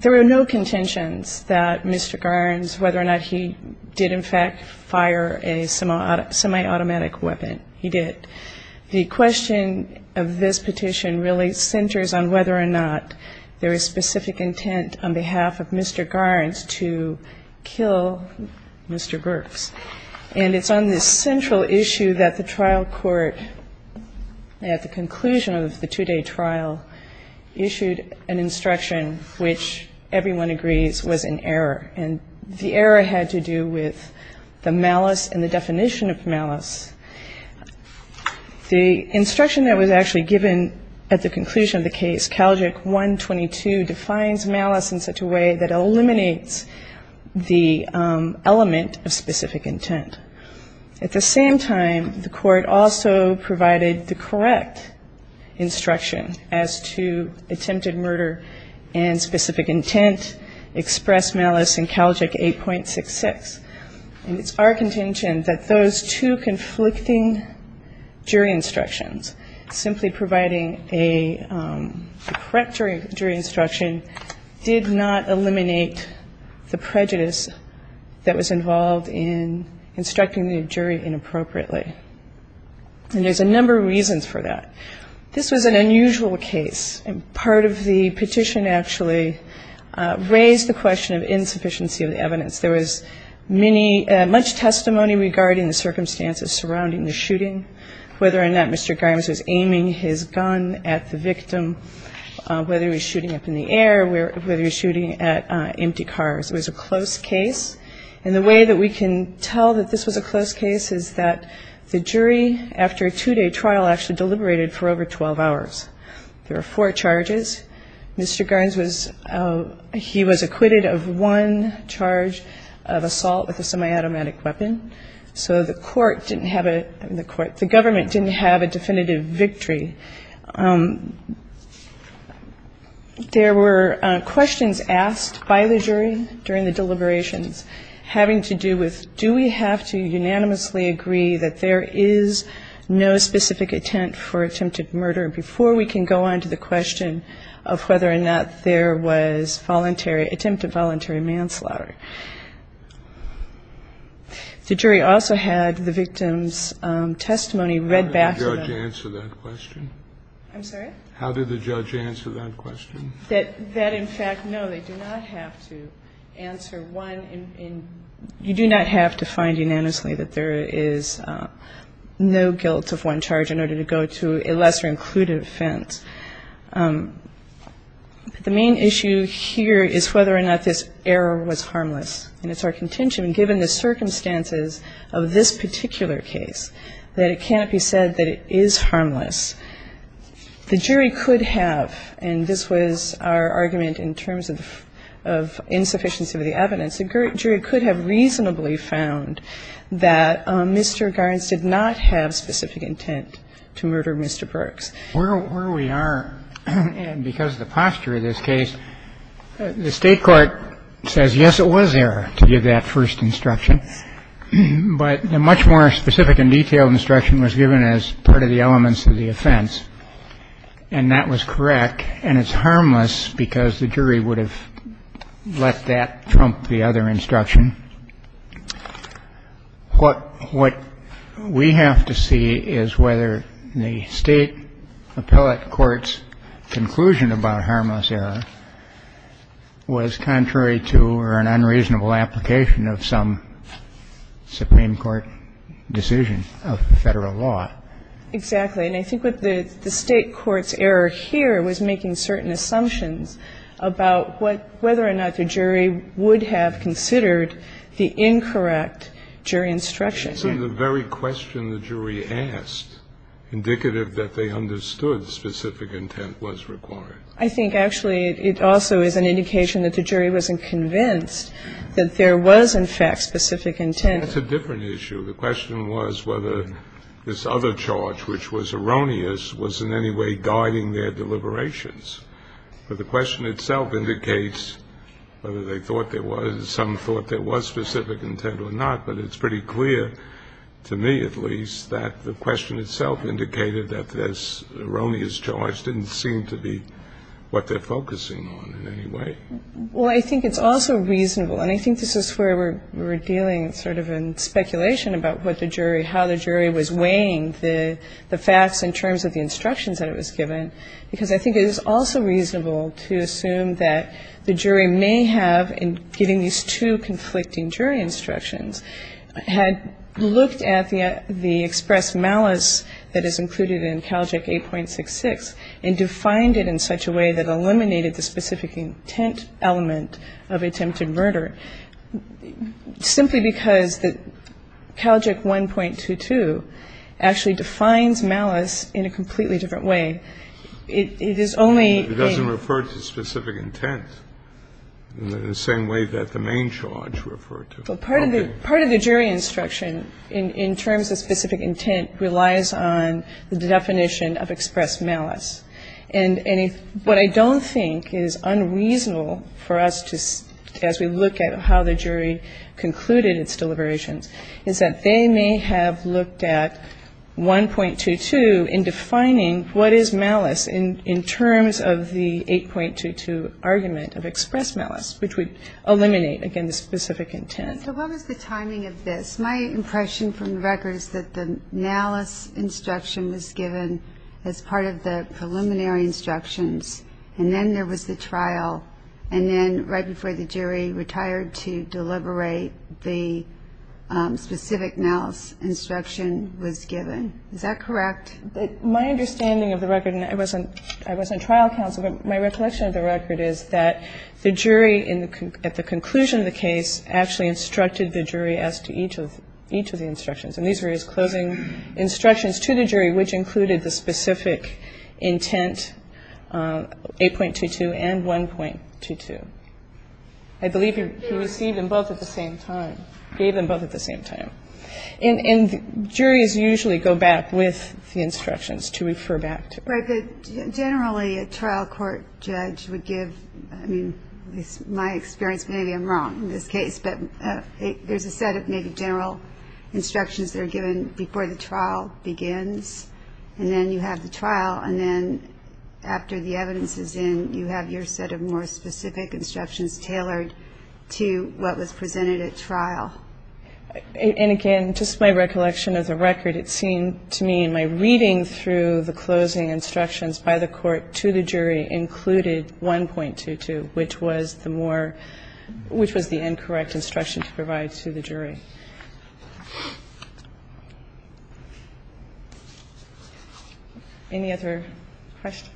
There were no contentions that Mr. Garnes, whether or not he did in fact fire a semi-automatic weapon. He did. The question of this petition really centers on whether or not there is specific intent on behalf of Mr. Garnes to kill Mr. Garnes. And it's on this central issue that the trial court, at the conclusion of the two-day trial, issued an instruction which everyone agrees was an error. And the error had to do with the malice and the definition of malice. The instruction that was actually given at the conclusion of the case, Calgic 122, defines malice in such a way that eliminates the element of specific intent. At the same time, the Court also provided the correct instruction as to attempted murder and specific intent, express malice in Calgic 8.66. And it's our contention that those two conflicting jury instructions, simply providing a correct jury instruction, did not eliminate the prejudice that was involved in instructing the jury inappropriately. And there's a number of reasons for that. This was an unusual case. And part of the petition actually raised the question of insufficiency of the evidence. There was many, much testimony regarding the circumstances surrounding the shooting, whether or not Mr. Garnes was aiming his gun at the victim, whether he was shooting up in the air, whether he was shooting at empty cars. It was a close case. And the way that we can tell that this was a close case is that the jury, after a two-day trial, actually deliberated for over 12 hours. There were four charges. Mr. Garnes was, he was acquitted of one charge of assault with a semi-automatic weapon. So the Court didn't have a, the Government didn't have a definitive victory. There were questions asked by the jury during the deliberations having to do with do we have to unanimously agree that there is no specific intent for attempted murder before we can go on to the question of whether or not there was voluntary, attempted voluntary manslaughter. The jury also had the victim's testimony read back to them. And I think that's a good question. I'm sorry? How did the judge answer that question? That in fact, no, they do not have to answer one. You do not have to find unanimously that there is no guilt of one charge in order to go to a lesser-included offense. The main issue here is whether or not this error was harmless. And it's our contention, given the circumstances of this particular case, that it can't be said that it is harmless. The jury could have, and this was our argument in terms of insufficiency of the evidence, the jury could have reasonably found that Mr. Garnes did not have specific intent to murder Mr. Brooks. Where we are, and because of the posture of this case, the State court says, yes, it was there to give that first instruction. But a much more specific and detailed instruction was given as part of the elements of the offense. And that was correct. And it's harmless because the jury would have let that trump the other instruction. And what we have to see is whether the State appellate court's conclusion about harmless error was contrary to or an unreasonable application of some Supreme Court decision of the Federal law. Exactly. And I think what the State court's error here was making certain assumptions about whether or not the jury would have considered the incorrect jury instruction. That's in the very question the jury asked, indicative that they understood specific intent was required. I think actually it also is an indication that the jury wasn't convinced that there was, in fact, specific intent. That's a different issue. The question was whether this other charge, which was erroneous, was in any way guiding their deliberations. But the question itself indicates whether they thought there was, some thought there was specific intent or not. But it's pretty clear, to me at least, that the question itself indicated that this erroneous charge didn't seem to be what they're focusing on in any way. Well, I think it's also reasonable. And I think this is where we're dealing sort of in speculation about what the jury, how the jury was weighing the facts in terms of the instructions that it was given. Because I think it is also reasonable to assume that the jury may have, in giving these two conflicting jury instructions, had looked at the expressed malice that is included in Calject 8.66 and defined it in such a way that eliminated the specific intent element of attempted murder, simply because Calject 1.22 actually defines malice in a completely different way. It is only a... It doesn't refer to specific intent in the same way that the main charge referred to. Well, part of the jury instruction in terms of specific intent relies on the definition of expressed malice. And what I don't think is unreasonable for us to, as we look at how the jury concluded its deliberations, is that they may have looked at 1.22 in defining what is malice in terms of the 8.22 argument of expressed malice, which would eliminate, again, the specific intent. So what was the timing of this? My impression from the record is that the malice instruction was given as part of the preliminary instructions, and then there was the trial, and then right before the jury retired to deliberate, the specific malice instruction was given. Is that correct? My understanding of the record, and I was on trial counsel, but my recollection of the record is that the jury, at the conclusion of the case, actually instructed the jury as to each of the instructions. And these were his closing instructions to the jury, which included the specific intent, 8.22 and 1.22. I believe he received them both at the same time, gave them both at the same time. And juries usually go back with the instructions to refer back to. But generally, a trial court judge would give, I mean, my experience, maybe I'm wrong in this case, but there's a set of maybe general instructions that are given before the trial begins, and then you have the trial, and then after the evidence is in, you have your set of more specific instructions tailored to what was presented at trial. And, again, just my recollection of the record, it seemed to me in my reading through the closing instructions by the court to the jury included 1.22, which was the more, which was the incorrect instruction to provide to the jury. Any other questions?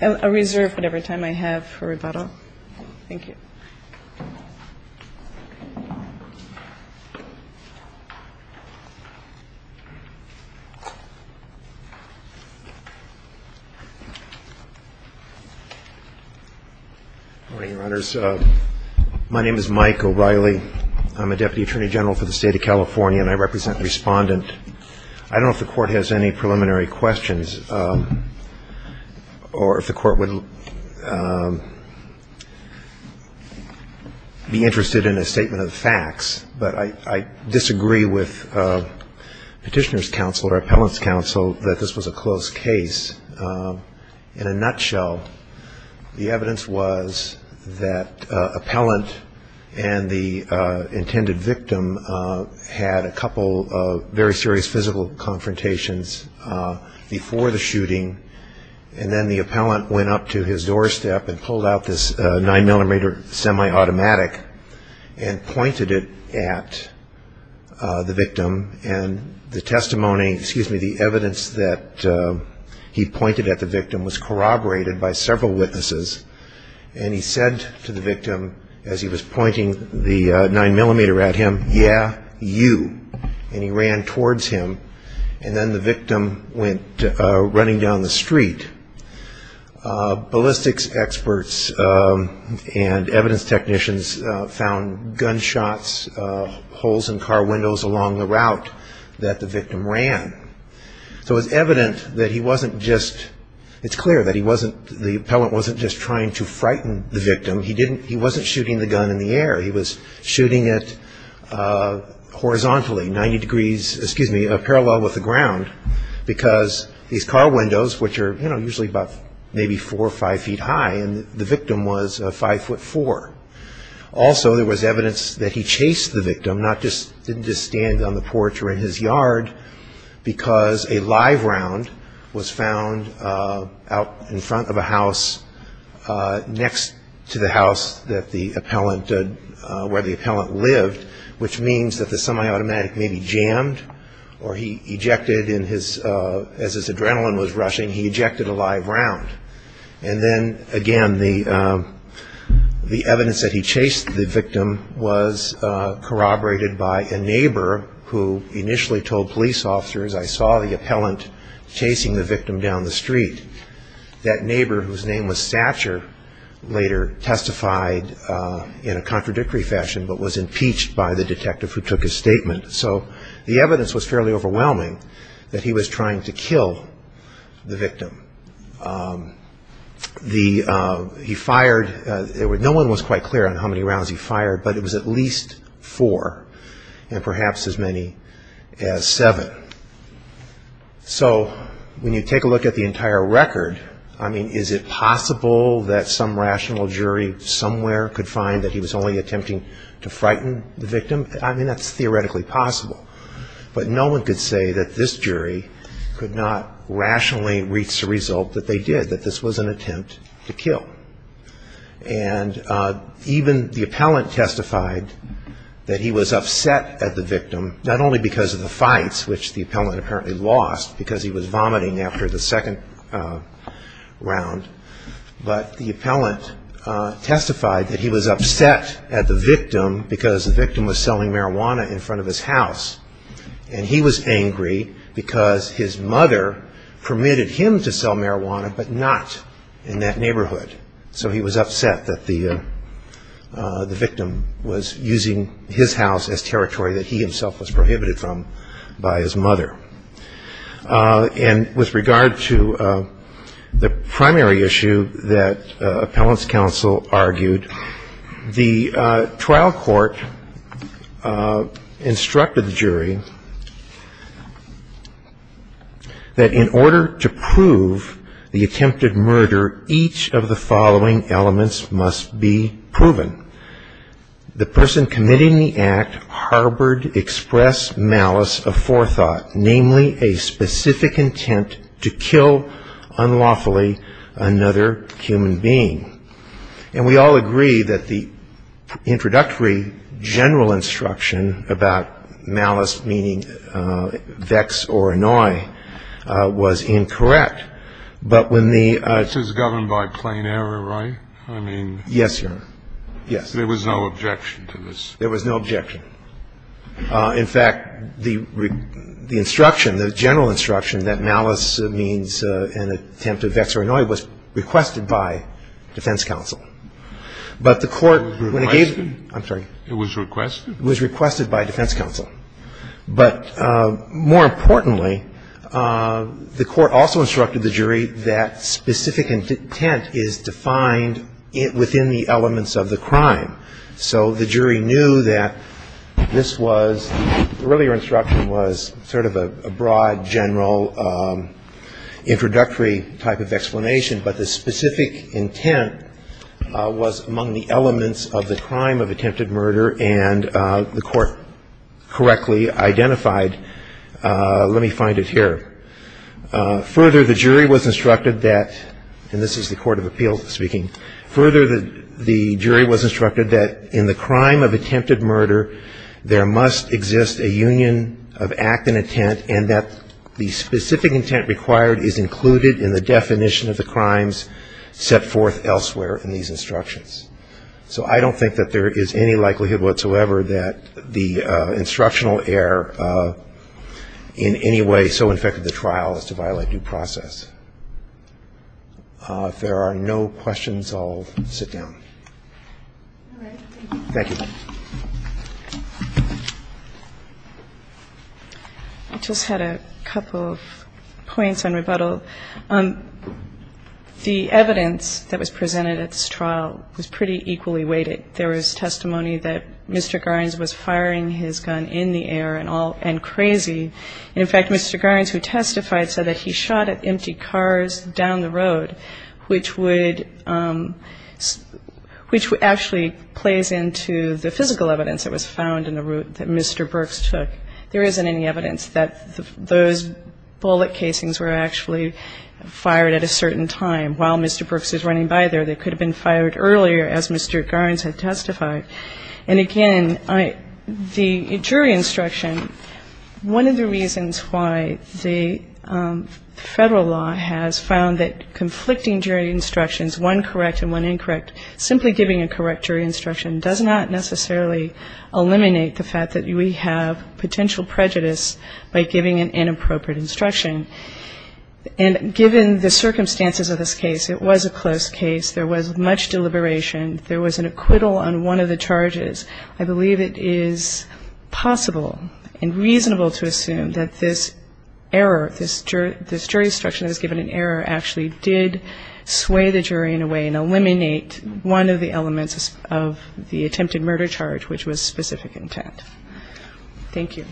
I'll reserve whatever time I have for rebuttal. Thank you. MR. O'REILLY. Good morning, Your Honors. My name is Mike O'Reilly. I'm a Deputy Attorney General for the State of California, and I represent the Respondent. I don't know if the Court has any preliminary questions, or if the Court would like to ask any preliminary questions. I'd be interested in a statement of facts, but I disagree with Petitioner's Counsel or Appellant's Counsel that this was a closed case. In a nutshell, the evidence was that Appellant and the intended victim had a couple of very serious physical confrontations before the shooting, and then the Appellant went up to his doorstep and pulled out this 9-millimeter semi-automatic and pointed it at the victim. And the testimony, excuse me, the evidence that he pointed at the victim was corroborated by several witnesses, and he said to the victim, as he was pointing the 9-millimeter at him, yeah, you. And he ran towards him, and then the victim went running down the street. Ballistics experts and evidence technicians found gunshots, holes in car windows along the route that the victim ran. So it's evident that he wasn't just, it's clear that he wasn't, the Appellant wasn't just trying to frighten the victim. He didn't, he wasn't shooting the gun in the air. He was shooting it horizontally, 90 degrees, excuse me, parallel with the ground, because these car windows, which are usually about maybe four or five feet high, and the victim was 5'4". Also, there was evidence that he chased the victim, not just, didn't just stand on the porch or in his yard, because a live round was found out in front of a where the Appellant lived, which means that the semi-automatic may be jammed, or he ejected in his, as his adrenaline was rushing, he ejected a live round. And then, again, the evidence that he chased the victim was corroborated by a neighbor who initially told police officers, I saw the Appellant chasing the victim down the street. That neighbor, whose name was Satcher, later testified in a contradictory fashion, but was impeached by the detective who took his statement. So the evidence was fairly overwhelming that he was trying to kill the victim. He fired, no one was quite clear on how many rounds he fired, but it was at least four, and perhaps as many as seven. So when you take a look at the entire record, I mean, is it possible that some rational jury somewhere could find that he was only attempting to frighten the victim? I mean, that's theoretically possible. But no one could say that this jury could not rationally reach the result that they did, that this was an attempt to kill. And even the Appellant testified that he was upset at the victim, because the victim was selling marijuana in front of his house. And he was angry because his mother permitted him to sell marijuana, but not in that neighborhood. So he was upset that the victim was using his house as territory that he himself was prohibited from by his mother. And with regard to the primary issue that Appellant's counsel argued, the trial court instructed the jury that in order to prove the attempted murder, each of the following elements must be proven. The person committing the act harbored express malice of forethought, namely a specific intent to kill unlawfully another human being. And we all agree that the introductory general instruction about malice, meaning vex or annoy, was incorrect. But when the This is governed by plain error, right? I mean, there was no objection to this. There was no objection. In fact, the instruction, the general instruction that malice means an attempt of vex or annoy was requested by defense counsel. But the court when it gave It was requested? I'm sorry. It was requested? It was requested by defense counsel. But more importantly, the court also instructed the jury that specific intent is defined within the elements of the crime. So the jury knew that this was, the earlier instruction was sort of a broad general introductory type of explanation, but the specific intent was among the elements of the crime of attempted murder, and the court correctly identified. Let me find it here. Further, the jury was instructed that, and this is the court of appeals speaking, Further, the jury was instructed that in the crime of attempted murder, there must exist a union of act and intent, and that the specific intent required is included in the definition of the crimes set forth elsewhere in these instructions. So I don't think that there is any likelihood whatsoever that the instructional error in any way so infected the trial as to violate due process. If there are no questions, I'll sit down. All right. Thank you. Thank you. I just had a couple of points on rebuttal. The evidence that was presented at this trial was pretty equally weighted. There was testimony that Mr. Garns was firing his gun in the air and all, and crazy. And in fact, Mr. Garns, who testified, said that he shot at empty cars down the road, which would actually plays into the physical evidence that was found in the route that Mr. Brooks took. There isn't any evidence that those bullet casings were actually fired at a certain time while Mr. Brooks was running by there. They could have been fired earlier as Mr. Garns had testified. And again, the jury instruction, one of the reasons why the Federal law has found that conflicting jury instructions, one correct and one incorrect, simply giving a correct jury instruction does not necessarily eliminate the fact that we have potential prejudice by giving an inappropriate instruction. And given the circumstances of this case, it was a close case. There was much deliberation. There was an acquittal on one of the charges. I believe it is possible and reasonable to assume that this error, this jury instruction that was given an error actually did sway the jury in a way and eliminate one of the elements of the attempted murder charge, which was specific intent. Thank you.